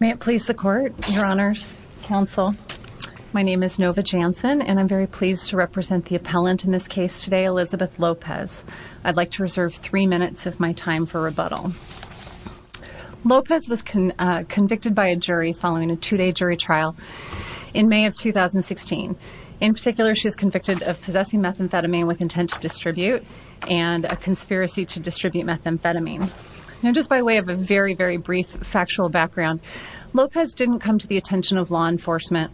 May it please the court, your honors, counsel. My name is Nova Jansen and I'm very pleased to represent the appellant in this case today, Elizabeth Lopez. I'd like to reserve three minutes of my time for rebuttal. Lopez was convicted by a jury following a two-day jury trial in May of 2016. In particular, she was convicted of possessing methamphetamine with intent to distribute and a conspiracy to distribute methamphetamine. Now, just by way of a very, very brief factual background, Lopez didn't come to the attention of law enforcement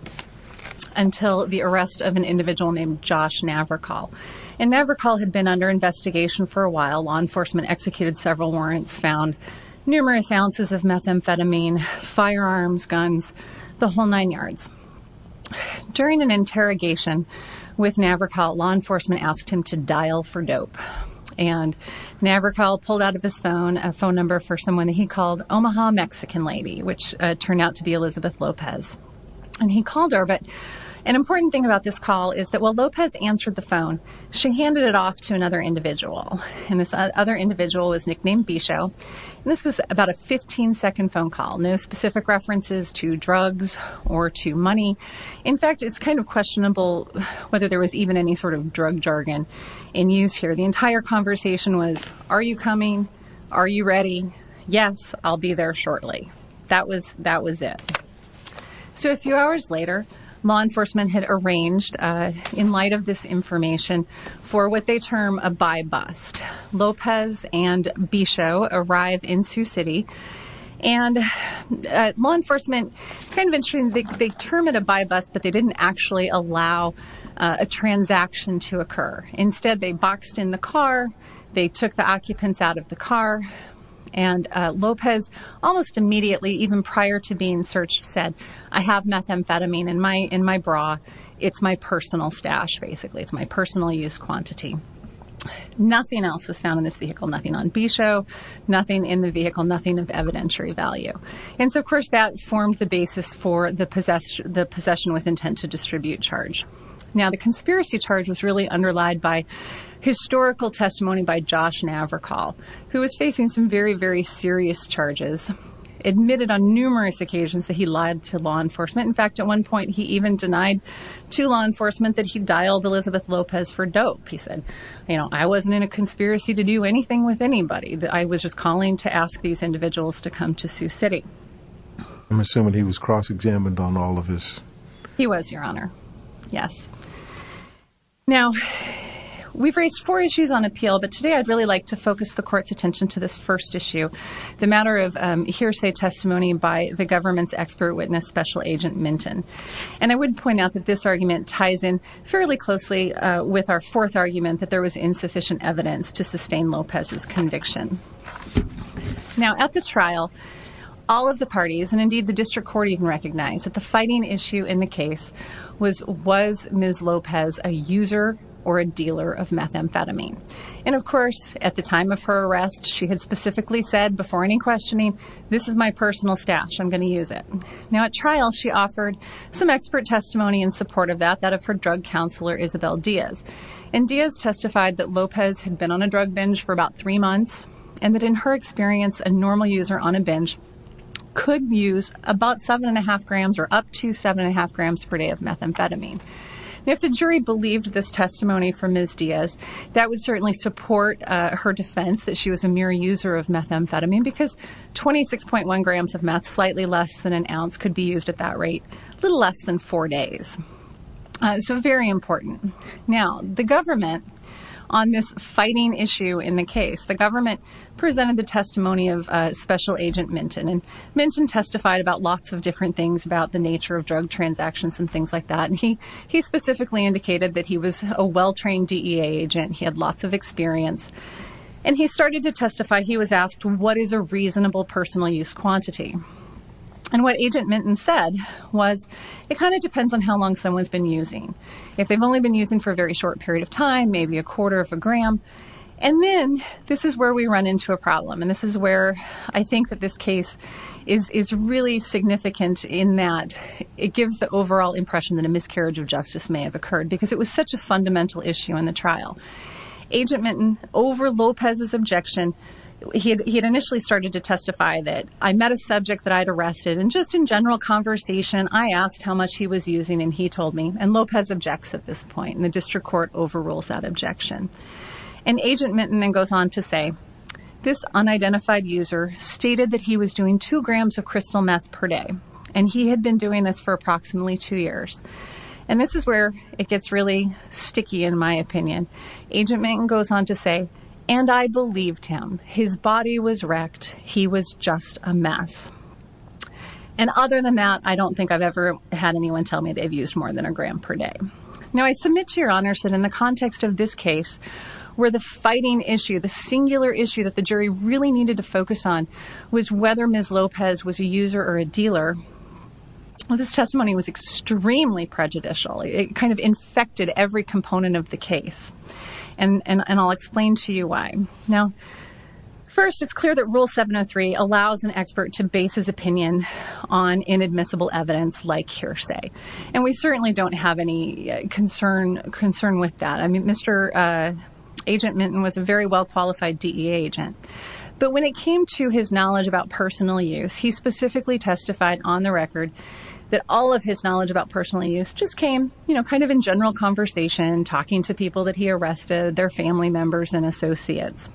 until the arrest of an individual named Josh Navrakol. And Navrakol had been under investigation for a while. Law enforcement executed several warrants, found numerous ounces of methamphetamine, firearms, guns, the whole nine yards. During an interrogation with Navrakol, law enforcement asked him to dial for dope. And Navrakol pulled out of his phone a phone number for someone that he called Omaha Mexican lady, which turned out to be Elizabeth Lopez. And he called her. But an important thing about this call is that while Lopez answered the phone, she handed it off to another individual. And this other individual was nicknamed Bisho. And this was about a 15 second phone call, no specific references to drugs or to money. In fact, it's kind of questionable whether there was even any sort of drug jargon in use here. The entire conversation was, are you coming? Are you ready? Yes, I'll be there shortly. That was, that was it. So a few hours later, law enforcement had arranged in light of this information for what they term a buy bust. Lopez and Bisho arrive in Sioux City and law enforcement kind of ensuring they term it a buy bust, but they didn't actually allow a transaction to occur. Instead, they boxed in the car. They took the occupants out of the car and Lopez almost immediately, even prior to being searched said, I have methamphetamine in my, in my bra. It's my use quantity. Nothing else was found in this vehicle, nothing on Bisho, nothing in the vehicle, nothing of evidentiary value. And so of course that formed the basis for the possession, the possession with intent to distribute charge. Now the conspiracy charge was really underlied by historical testimony by Josh Navarco, who was facing some very, very serious charges, admitted on numerous occasions that he lied to law enforcement. In fact, at one point, he even denied to law enforcement that he dialed Elizabeth Lopez for dope. He said, you know, I wasn't in a conspiracy to do anything with anybody that I was just calling to ask these individuals to come to Sioux City. I'm assuming he was cross-examined on all of this. He was, Your Honor. Yes. Now we've raised four issues on appeal, but today I'd really like to focus the court's attention to this first issue, the matter of hearsay testimony by the government's spirit witness, special agent Minton. And I would point out that this argument ties in fairly closely with our fourth argument, that there was insufficient evidence to sustain Lopez's conviction. Now at the trial, all of the parties and indeed the district court even recognized that the fighting issue in the case was, was Ms. Lopez a user or a dealer of methamphetamine? And of course, at the time of her arrest, she had specifically said before any questioning, this is my personal stash. I'm going to use it. Now at trial, she offered some expert testimony in support of that, that of her drug counselor, Isabel Diaz. And Diaz testified that Lopez had been on a drug binge for about three months and that in her experience, a normal user on a binge could use about seven and a half grams or up to seven and a half grams per day of methamphetamine. And if the jury believed this testimony from Ms. Diaz, that would certainly support her defense that she was a mere user of methamphetamine because 26.1 grams of meth, slightly less than an ounce could be used at that rate, a little less than four days. So very important. Now the government on this fighting issue in the case, the government presented the testimony of a special agent Minton and Minton testified about lots of different things about the nature of drug transactions and things like that. And he, he specifically indicated that he was a well-trained agent. He had lots of experience and he started to testify. He was asked what is a reasonable personal use quantity. And what agent Minton said was it kind of depends on how long someone's been using. If they've only been using for a very short period of time, maybe a quarter of a gram. And then this is where we run into a problem. And this is where I think that this case is, is really significant in that it gives the overall impression that a miscarriage of justice may have occurred in the trial. Agent Minton over Lopez's objection, he had initially started to testify that I met a subject that I'd arrested. And just in general conversation, I asked how much he was using and he told me, and Lopez objects at this point and the district court overrules that objection. And agent Minton then goes on to say, this unidentified user stated that he was doing two grams of crystal meth per day. And he had been doing this for approximately two years. And this is where it gets really sticky. In my opinion, agent Minton goes on to say, and I believed him, his body was wrecked. He was just a mess. And other than that, I don't think I've ever had anyone tell me they've used more than a gram per day. Now I submit to your honors that in the context of this case, where the fighting issue, the singular issue that the jury really needed to focus on was whether Ms. Lopez was a user or a prejudicial. It kind of infected every component of the case. And I'll explain to you why. Now, first it's clear that rule 703 allows an expert to base his opinion on inadmissible evidence like hearsay. And we certainly don't have any concern with that. I mean, Mr. Agent Minton was a very well-qualified DEA agent, but when it came to his knowledge about personal use, he specifically testified on the record that all of his knowledge about personal use just came kind of in general conversation, talking to people that he arrested, their family members and associates.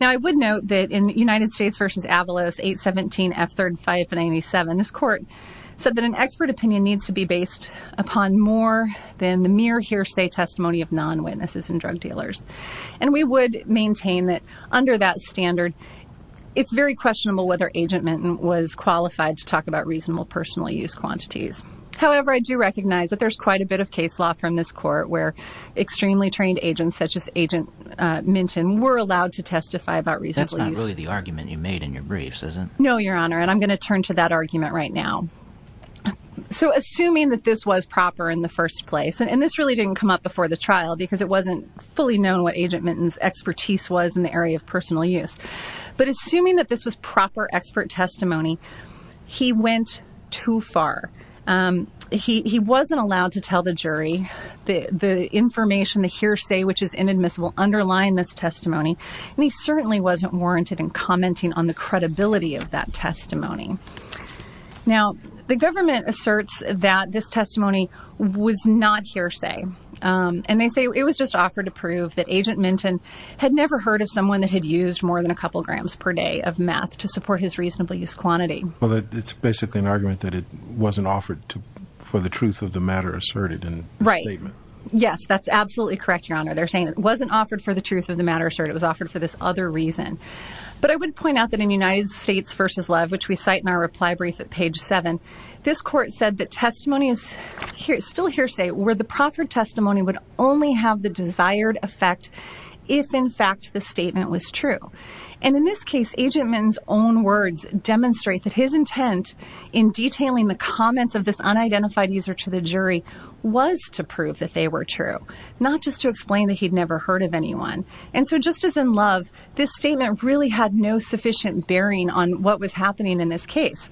Now I would note that in United States versus Avalos 817 F3597, this court said that an expert opinion needs to be based upon more than the mere hearsay testimony of non-witnesses and drug dealers. And we would maintain that under that standard, it's very questionable whether agent Minton was qualified to talk about reasonable personal use quantities. However, I do recognize that there's quite a bit of case law from this court where extremely trained agents, such as Agent Minton, were allowed to testify about reasonable use. That's not really the argument you made in your briefs, is it? No, your honor. And I'm going to turn to that argument right now. So assuming that this was proper in the first place, and this really didn't come up before the trial because it wasn't fully known what Agent Minton's expertise was in the area of personal use. But assuming that this was proper expert testimony, he went too far. He wasn't allowed to tell the jury the information, the hearsay, which is inadmissible underlying this testimony. And he certainly wasn't warranted in commenting on the credibility of that testimony. Now, the government asserts that this testimony was not hearsay. And they say it was just offered to prove that Agent Minton had never heard of reasonable use quantity. Well, it's basically an argument that it wasn't offered for the truth of the matter asserted in the statement. Right. Yes, that's absolutely correct, your honor. They're saying it wasn't offered for the truth of the matter asserted. It was offered for this other reason. But I would point out that in United States versus Love, which we cite in our reply brief at page seven, this court said that testimony is still hearsay where the proper testimony would only have the desired effect if, in fact, the statement was true. And in this case, Agent Minton's own words demonstrate that his intent in detailing the comments of this unidentified user to the jury was to prove that they were true, not just to explain that he'd never heard of anyone. And so just as in Love, this statement really had no sufficient bearing on what was happening in this case.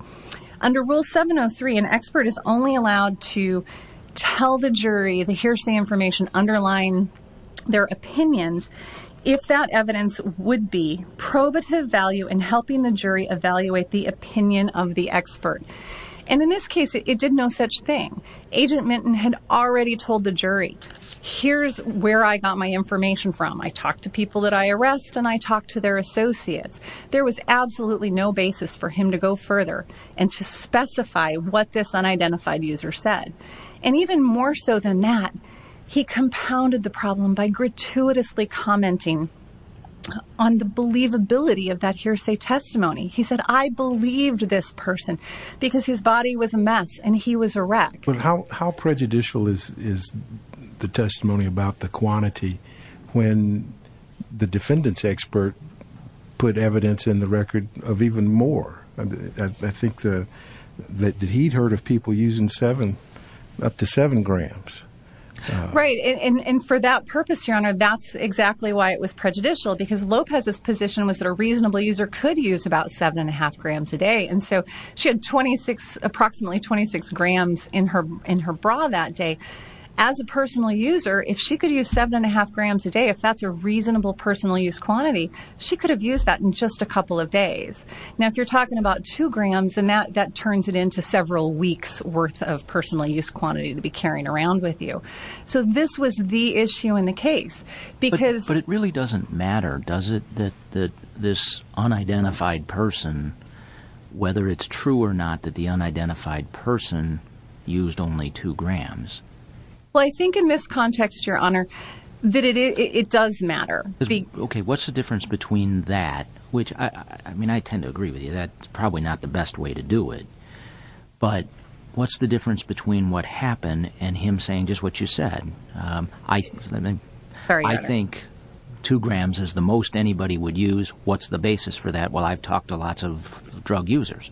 Under Rule 703, an expert is only allowed to tell the jury the hearsay information underlying their opinions if that evidence would be probative value in helping the jury evaluate the opinion of the expert. And in this case, it did no such thing. Agent Minton had already told the jury, here's where I got my information from. I talked to people that I arrest and I talked to their associates. There was absolutely no basis for that. He compounded the problem by gratuitously commenting on the believability of that hearsay testimony. He said, I believed this person because his body was a mess and he was a wreck. But how prejudicial is the testimony about the quantity when the defendants expert put evidence in the record of even more? I think that he'd heard of people using seven, up to seven grams. Right. And for that purpose, your honor, that's exactly why it was prejudicial, because Lopez's position was that a reasonable user could use about seven and a half grams a day. And so she had twenty six, approximately twenty six grams in her in her bra that day. As a personal user, if she could use seven and a half grams a day, if that's a reasonable personal use quantity, she could have used that in just a couple of days. Now, if you're talking about two grams and that that turns it into several weeks worth of personal use quantity to be carrying around with you. So this was the issue in the case because. But it really doesn't matter, does it? That this unidentified person, whether it's true or not, that the unidentified person used only two grams. Well, I think in this context, your honor, that it does matter. OK, what's the difference between that? Which, I mean, I tend to agree with you. That's probably not the best way to do it. But what's the difference between what happened and him saying just what you said? I think two grams is the most anybody would use. What's the basis for that? Well, I've talked to lots of drug users.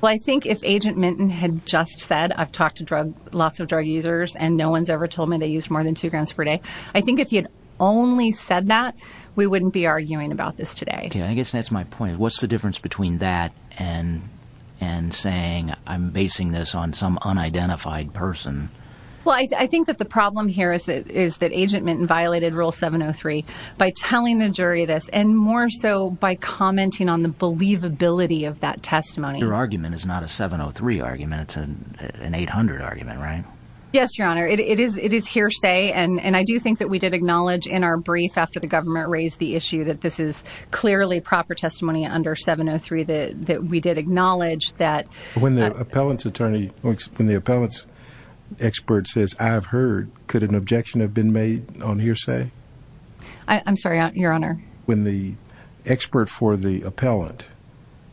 Well, I think if Agent Minton had just said, I've talked to lots of drug users and no one's ever told me they used more than two grams per day. I think if you'd only said that, we wouldn't be arguing about this today. I guess that's my point. What's the difference between that and and saying I'm basing this on some unidentified person? Well, I think that the problem here is that is that Agent Minton violated Rule 703 by telling the jury this and more so by commenting on the believability of that testimony. Your argument is not a 703 argument. It's an 800 argument, right? Yes, your honor. It is. It is hearsay. And I do think that we did acknowledge in our brief after the government raised the issue that this is clearly proper testimony under 703 that that we did acknowledge that when the appellant's attorney when the appellant's expert says, I've heard, could an objection have been made on hearsay? I'm sorry, your honor. When the expert for the appellant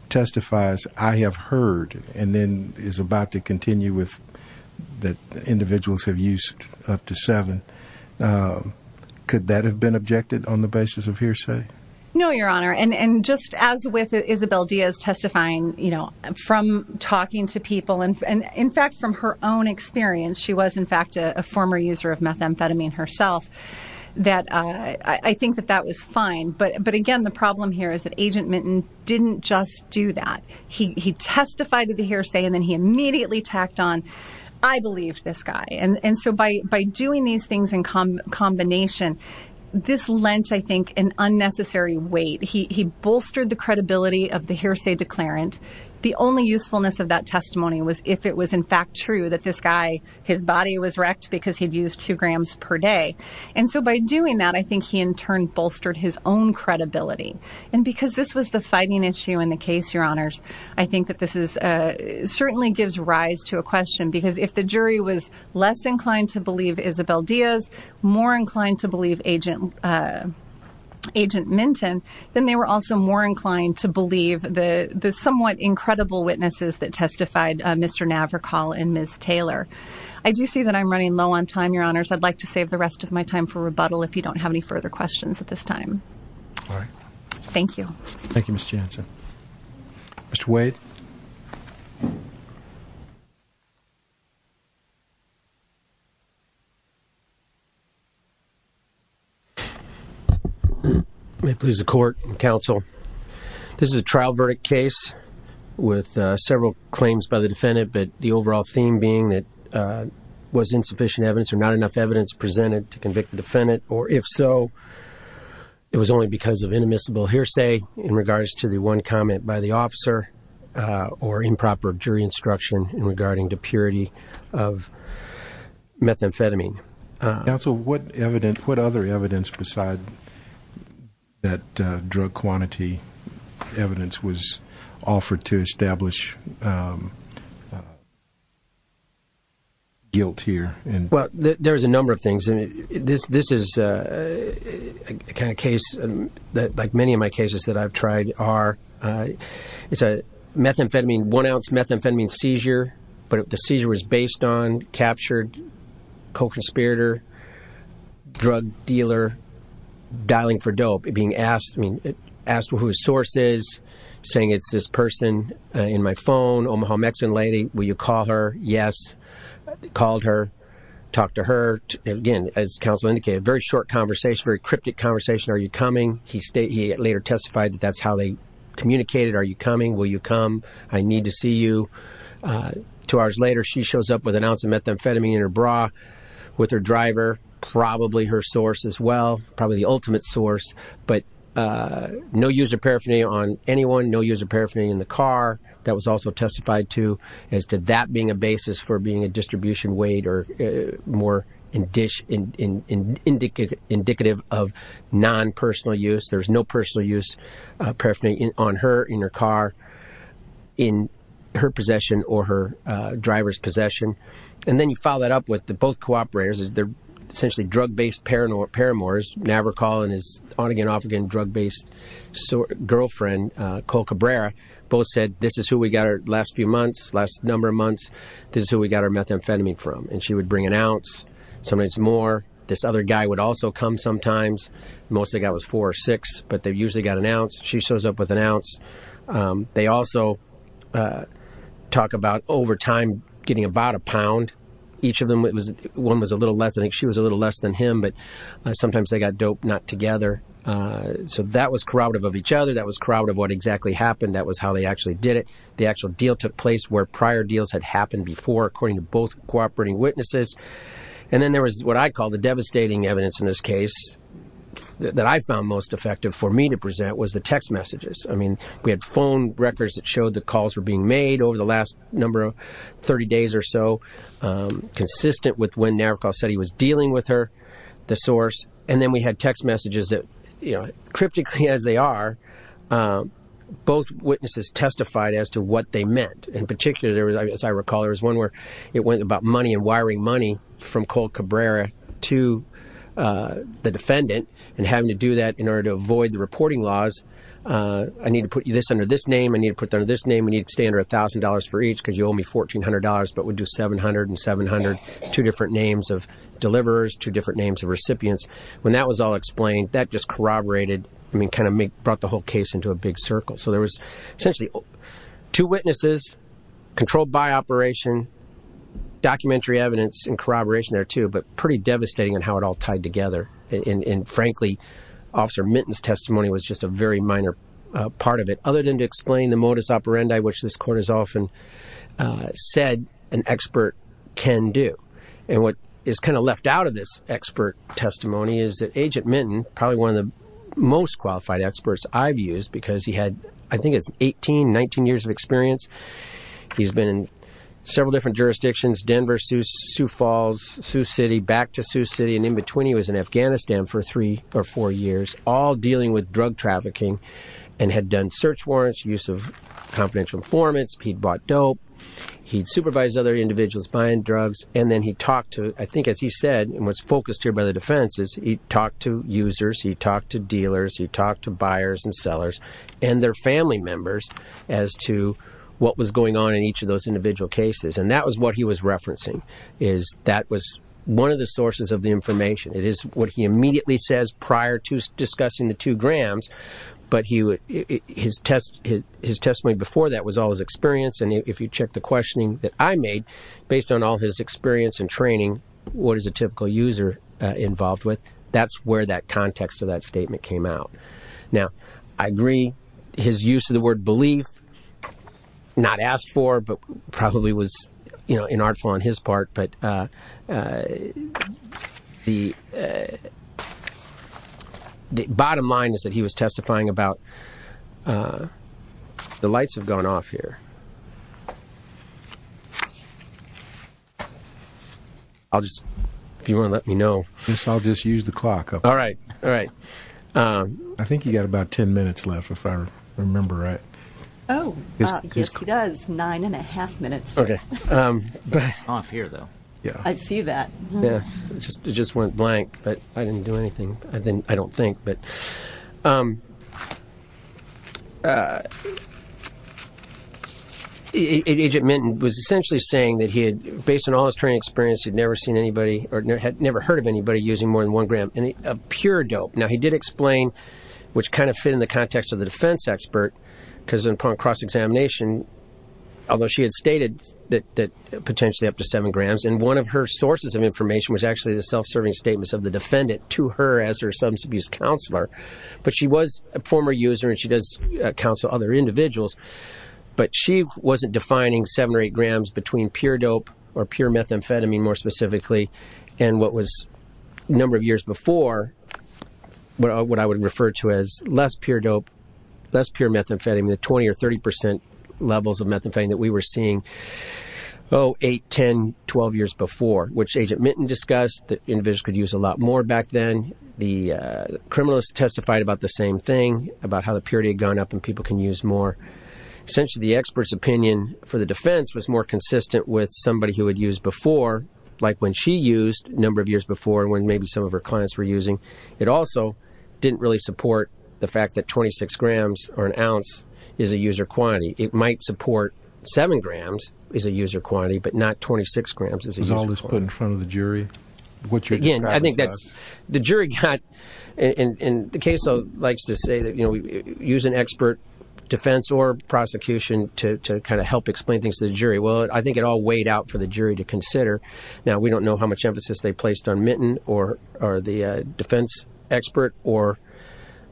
testifies, I have heard and then is about to continue with that individuals have used up to seven. Could that have been objected on the basis of hearsay? No, your honor. And just as with Isabel Diaz testifying, you know, from talking to people and in fact, from her own experience, she was, in fact, a former user of methamphetamine herself that I think that that was fine. But but again, the problem here is that Agent Minton didn't just do that. He testified to the hearsay and then he immediately tacked on, I believe this guy. And so by by doing these things in combination, this lent, I think, an unnecessary weight. He bolstered the credibility of the hearsay declarant. The only usefulness of that testimony was if it was, in fact, true that this guy, his body was wrecked because he'd used two grams per day. And so by doing that, I think he in turn bolstered his own credibility. And because this was the fighting issue in the case, your honors, I think that this is certainly gives rise to a question, because if the jury was less inclined to believe Isabel Diaz, more inclined to believe Agent Minton, then they were also more inclined to believe the somewhat incredible witnesses that testified, Mr. Navrakol and Ms. Taylor. I do see that I'm running low on time, your honors. I'd like to save the rest of my time for rebuttal if you don't have any further questions at this time. All right. Thank you. Thank you, Ms. Jansen. Mr. Wade. May it please the court and counsel. This is a trial verdict case with several claims by the defendant, but the overall theme being that was insufficient evidence or not enough evidence presented to convict the defendant, or if so, it was only because of inadmissible hearsay in regards to the one comment by the officer or improper jury instruction in regarding the purity of methamphetamine. Counsel, what other evidence besides that drug quantity evidence was offered to establish guilt here? Well, there's a number of things, and this is a kind of case that like many of my cases that I've tried are. It's a methamphetamine, one ounce methamphetamine seizure, but the seizure was based on captured co-conspirator, drug dealer, dialing for dope, being asked, I mean, asked who his source is saying it's this person in my phone, Omaha Mexican lady. Will you call her? Yes. Called her. Talked to her again, as counsel indicated, very short conversation, very cryptic conversation. Are you coming? He later testified that that's how they communicated. Are you coming? Will you come? I need to see you. Two hours later, she shows up with an ounce of methamphetamine in her bra with her driver, probably her source as well, probably ultimate source, but no use of paraphernalia on anyone, no use of paraphernalia in the car. That was also testified to as to that being a basis for being a distribution weight or more indicative of non-personal use. There's no personal use paraphernalia on her in her car, in her possession or her driver's possession. And then you follow that up with the both cooperators. They're essentially drug-based paramours. Navarco and his on-again, off-again drug-based girlfriend, Cole Cabrera, both said, this is who we got our last few months, last number of months. This is who we got our methamphetamine from. And she would bring an ounce, sometimes more. This other guy would also come sometimes. Most they got was four or six, but they usually got an ounce. She shows up with an ounce. They also talk about over time getting about a pound. Each of them, it was one was a little less. I think she was a little less than him, but sometimes they got dope, not together. So that was corroborative of each other. That was corroborative of what exactly happened. That was how they actually did it. The actual deal took place where prior deals had happened before, according to both cooperating witnesses. And then there was what I call the devastating evidence in this case that I found most effective for me to present was the text messages. I mean, we had phone records that showed the calls were being made over the last number of 30 days or so, consistent with when Navarro said he was dealing with her, the source. And then we had text messages that cryptically as they are, both witnesses testified as to what they meant. In particular, there was, as I recall, there was one where it went about money and wiring money from Cole Cabrera to the defendant and having to do that in order to avoid the reporting laws. I need to put this under this name. I need to put that under this name. We need to stay under $1,000 for each because you owe me $1,400, but we do 700 and 700, two different names of deliverers, two different names of recipients. When that was all explained, that just corroborated, I mean, kind of brought the whole case into a big circle. So there was essentially two witnesses controlled by operation, documentary evidence and corroboration there too, but pretty devastating in how it all tied together. And frankly, Officer Minton's testimony was just a very minor part of it, other than to explain the modus operandi, which this court has often said an expert can do. And what is kind of left out of this expert testimony is that Agent Minton, probably one of the most qualified experts I've used because he had, I think it's 18, 19 years of experience. He's been in several different jurisdictions, Denver, Sioux Falls, Sioux City, back to Sioux City. And in between he was in Afghanistan for three or four years, all dealing with drug trafficking and had done search warrants, use of confidential informants. He'd bought dope. He'd supervised other individuals buying drugs. And then he talked to, I think, as he said, and what's focused here by the defense is he talked to users, he talked to dealers, he talked to buyers and sellers and their family members as to what was going on in each of those one of the sources of the information. It is what he immediately says prior to discussing the two grams, but his testimony before that was all his experience. And if you check the questioning that I made based on all his experience and training, what is a typical user involved with? That's where that context of that statement came out. Now, I agree his use of the word belief, not asked for, but probably was, you know, inartful on his part. But the bottom line is that he was testifying about the lights have gone off here. I'll just, if you want to let me know, I'll just use the clock. All right. All right. I think you got about 10 minutes left, if I remember right. Oh, yes, he does. Nine and a half minutes. Okay. Off here, though. Yeah, I see that. Yeah, it just went blank, but I didn't do anything. I don't think. But Agent Minton was essentially saying that he had, based on all his training experience, he'd never seen anybody or had never heard of anybody using more than one gram of pure dope. Now, he did explain, which kind of fit in the context of the defense expert, because upon cross-examination, although she had stated that potentially up to seven grams. And one of her sources of information was actually the self-serving statements of the defendant to her as her substance abuse counselor. But she was a former user and she does counsel other individuals. But she wasn't defining seven or eight grams between pure dope or pure methamphetamine, more specifically. And what was a number of years before, what I would refer to as less pure dope, less pure methamphetamine, the 20 or 30 percent levels of methamphetamine that we were seeing, oh, eight, 10, 12 years before, which Agent Minton discussed that individuals could use a lot more back then. The criminalist testified about the same thing, about how the purity had gone up and people can use more. Essentially, the expert's opinion for the like when she used a number of years before and when maybe some of her clients were using, it also didn't really support the fact that 26 grams or an ounce is a user quantity. It might support seven grams is a user quantity, but not 26 grams. Was all this put in front of the jury? Again, I think that's the jury got, and the case likes to say that, you know, we use an expert defense or prosecution to kind of help explain things to the jury. Well, I think it all weighed out for the jury to consider. Now, we don't know how much emphasis they placed on Minton or the defense expert or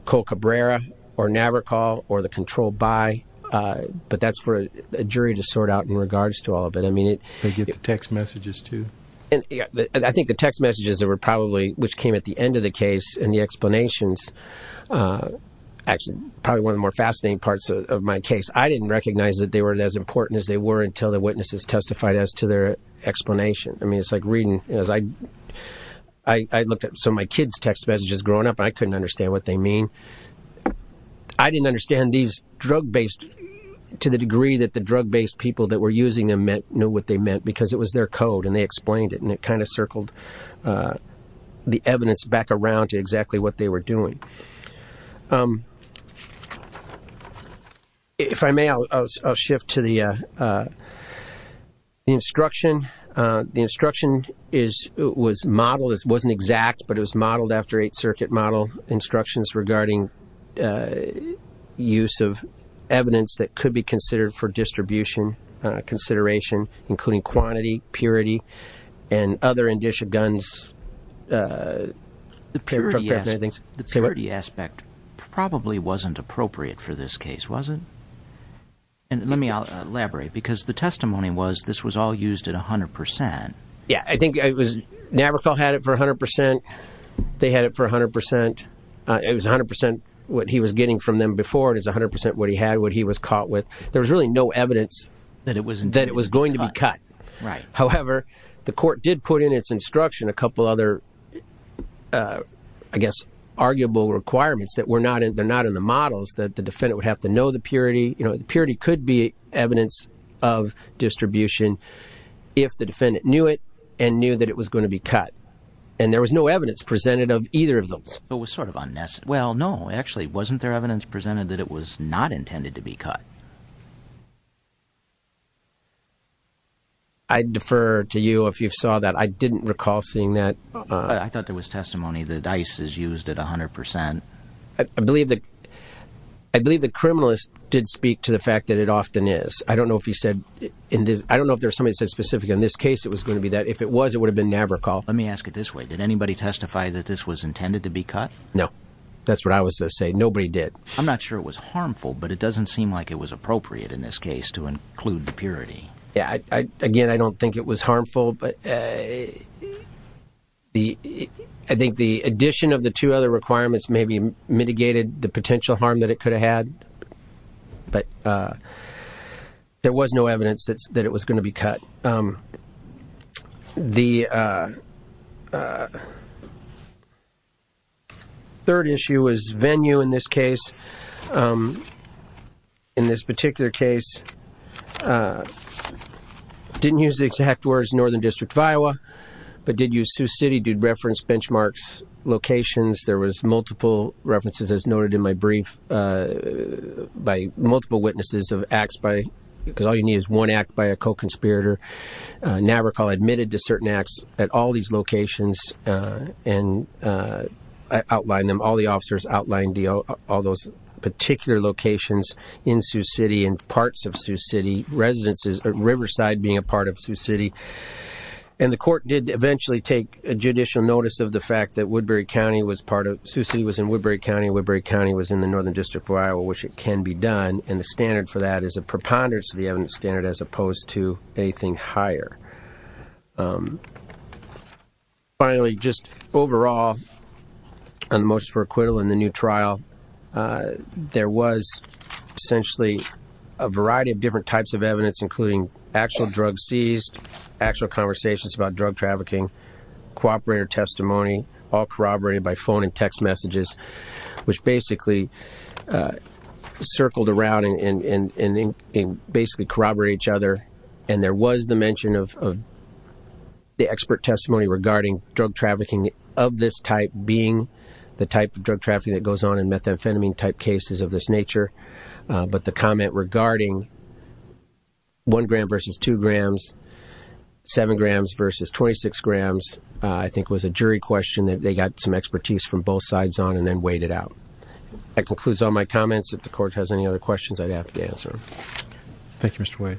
Cole Cabrera or Navarco or the controlled by, but that's for a jury to sort out in regards to all of it. I mean, it- They get the text messages too. I think the text messages that were probably, which came at the end of the case and the explanations, actually, probably one of the more fascinating parts of my case. I didn't recognize that they were as important as they were until the witnesses testified as to their explanation. I mean, it's like reading as I looked at some of my kids' text messages growing up, I couldn't understand what they mean. I didn't understand these drug-based, to the degree that the drug-based people that were using them knew what they meant because it was their code and they explained it and it kind of circled the evidence back around to exactly what they were doing. If I may, I'll shift to the instruction. The instruction was modeled, it wasn't exact, but it was modeled after Eighth Circuit model instructions regarding use of evidence that could be considered for distribution consideration, including quantity, purity, and other probably wasn't appropriate for this case, was it? And let me elaborate because the testimony was this was all used at 100%. Yeah, I think it was, Navarro had it for 100%, they had it for 100%. It was 100% what he was getting from them before, it was 100% what he had, what he was caught with. There was really no evidence that it was going to be cut. However, the court did put in its instruction a couple other, I guess, arguable requirements that were not in, they're not in the models that the defendant would have to know the purity, you know, the purity could be evidence of distribution if the defendant knew it and knew that it was going to be cut. And there was no evidence presented of either of those. It was sort of unnecessary. Well, no, actually, wasn't there evidence presented that it was not intended to be cut? I defer to you if you saw that. I didn't recall seeing that. I thought there was testimony that ICE is used at 100%. I believe the criminalist did speak to the fact that it often is. I don't know if he said in this, I don't know if there's somebody said specific in this case, it was going to be that if it was, it would have been Navarro call. Let me ask it this way. Did anybody testify that this was intended to be cut? No, that's what I was going to say. Nobody did. I'm not sure it was harmful, but it doesn't seem like it was appropriate in this case to include the purity. Again, I don't think it was harmful, but I think the addition of the two other requirements maybe mitigated the potential harm that it could have had, but there was no evidence that it was going to be cut. The third issue was venue in this case. In this particular case, didn't use the exact words Northern District of Iowa, but did use Sioux City, did reference benchmarks locations. There was multiple references as noted in my brief by multiple witnesses of acts because all you need is one act by a co-conspirator. Navarro call admitted to certain acts at all these locations and I outlined them, all the officers outlined all those particular locations in Sioux City and parts of Sioux City residences, Riverside being a part of Sioux City. And the court did eventually take a judicial notice of the fact that Sioux City was in Woodbury County, Woodbury County was in the Northern District of Iowa, which it can be done. And the standard for that is a preponderance of the evidence standard as opposed to anything higher. Finally, just overall, on the motion for acquittal in the new trial, there was essentially a variety of different types of evidence, including actual drug seized, actual conversations about drug trafficking, cooperator testimony, all corroborated by phone and text messages, which basically circled around and basically corroborate each other. And there was the mention of the expert testimony regarding drug trafficking of this type being the type of drug trafficking that goes on in methamphetamine type cases of this nature. But the comment regarding one gram versus two grams, seven grams versus 26 grams, I think was a jury question that they got some expertise from both sides on and then weighed it out. That concludes all my comments. If the court has any other questions, I'd be happy to answer. Thank you, Mr. White.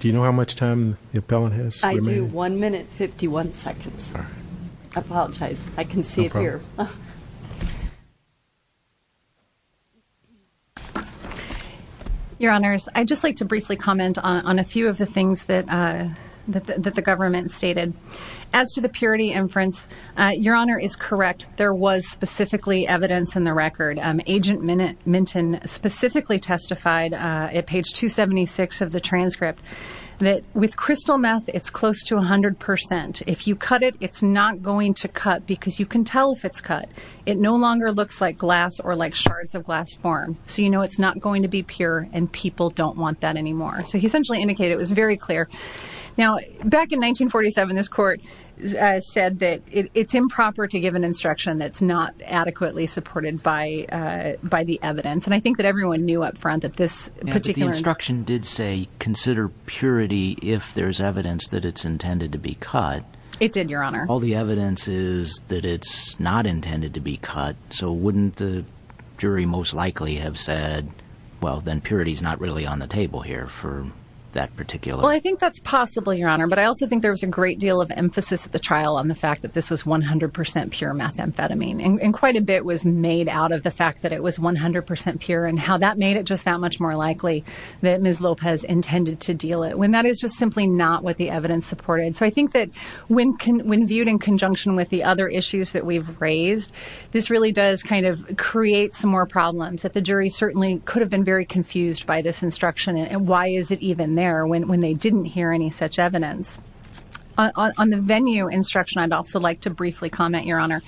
Do you know how much time the appellant has? I do. One minute, 51 seconds. I apologize. I can see it here. Your Honors, I'd just like to briefly comment on a few of the things that the government stated. As to the purity inference, Your Honor is correct. There was specifically evidence in the record. Agent Minton specifically testified at page 276 of the transcript that with crystal meth, it's close to 100%. If you cut it, it's not going to cut because you can tell if it's cut. It no longer looks like glass or like shards of glass form. So you know it's not going to be pure and people don't want that anymore. So he essentially indicated it was very clear. Now, back in 1947, this court said that it's improper to give an instruction that's not adequately supported by the evidence. And I think that everyone knew up front that this instruction did say consider purity if there's evidence that it's intended to be cut. It did, Your Honor. All the evidence is that it's not intended to be cut. So wouldn't the jury most likely have said, well, then purity is not really on the table here for that particular. Well, I think that's possible, Your Honor. But I also think there was a great deal of emphasis at the trial on the fact that this was 100% pure methamphetamine and quite a bit was made out of the fact that it was 100% pure and how that made it just that much more likely that Ms. Lopez intended to deal it when that is just simply not what the evidence supported. So I think that when viewed in conjunction with the other issues that we've raised, this really does kind of create some more problems that the jury certainly could have been very confused by this instruction and why is it even there when they didn't hear any such evidence. On the venue instruction, I'd also like to briefly comment, Your Honor,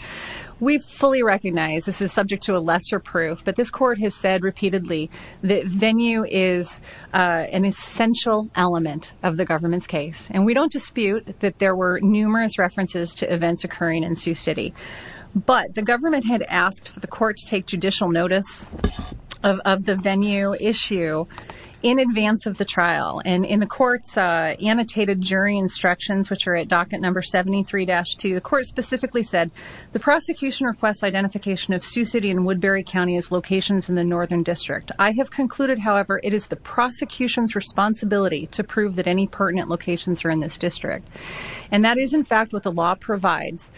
we fully recognize this is subject to a lesser proof, but this court has said repeatedly that venue is an essential element of the government's case. And we don't dispute that there were numerous references to events occurring in Sioux City, but the government had asked the court to take judicial notice of the venue issue in advance of the trial and in the court's annotated jury instructions, which are at docket number 73-2, the court specifically said, the prosecution requests identification of Sioux City and Woodbury County as locations in the Northern District. I have concluded, however, it is the prosecution's responsibility to prove that any pertinent locations are in this district. And that is in fact what the law provides.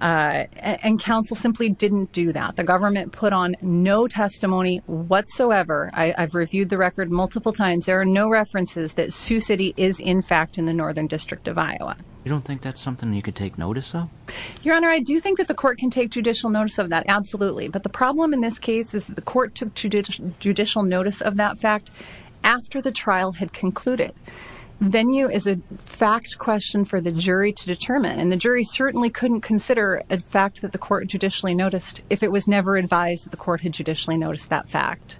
And counsel simply didn't do that. The government put on no testimony whatsoever. I've reviewed the record multiple times. There are no references that Sioux City is in fact in the Northern District of Iowa. You don't think that's noticeable? Your Honor, I do think that the court can take judicial notice of that. Absolutely. But the problem in this case is the court took judicial notice of that fact after the trial had concluded. Venue is a fact question for the jury to determine, and the jury certainly couldn't consider a fact that the court judicially noticed if it was never advised that the court had judicially noticed that fact.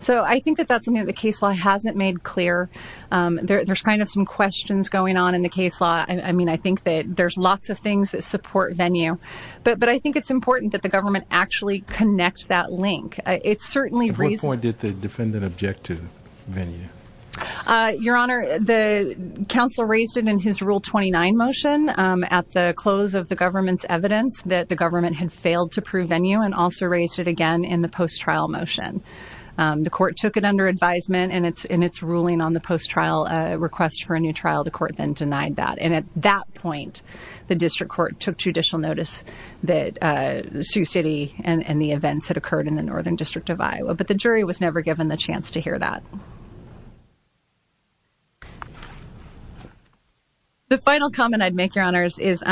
So I think that that's something that the case law hasn't made clear. There's kind of some questions going on in the case law. I mean, I think that there's lots of things that support venue, but I think it's important that the government actually connect that link. At what point did the defendant object to venue? Your Honor, the counsel raised it in his Rule 29 motion at the close of the government's evidence that the government had failed to prove venue and also raised it again in the post-trial motion. The court took it under advisement in its ruling on the post-trial request for a new trial. The district court took judicial notice that Sioux City and the events that occurred in the Northern District of Iowa, but the jury was never given the chance to hear that. The final comment I'd make, Your Honors, is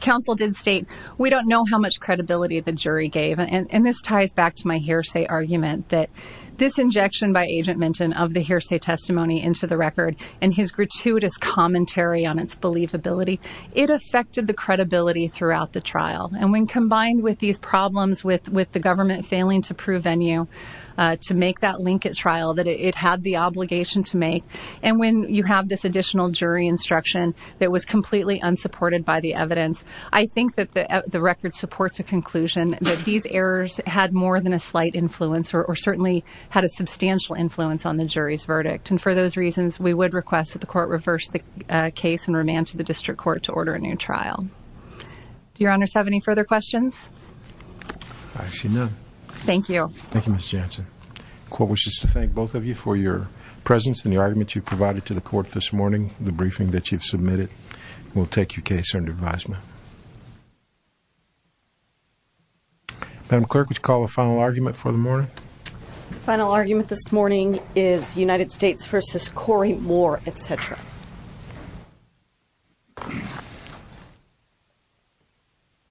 counsel did state we don't know how much credibility the jury gave, and this ties back to my hearsay argument that this injection by Agent Minton of the hearsay testimony into the record and his gratuitous commentary on its believability, it affected the credibility throughout the trial. And when combined with these problems with the government failing to prove venue, to make that link at trial that it had the obligation to make, and when you have this additional jury instruction that was completely unsupported by the evidence, I think that the record supports a conclusion that these errors had more than a slight influence or certainly had a substantial influence on the jury's verdict. And those reasons, we would request that the court reverse the case and remand to the district court to order a new trial. Do Your Honors have any further questions? I see none. Thank you. Thank you, Ms. Jansen. The court wishes to thank both of you for your presence and the argument you provided to the court this morning. The briefing that you've submitted will take your case under advisement. Madam Clerk, would you call the final argument for the morning? The final argument this is Corey Moore, et cetera.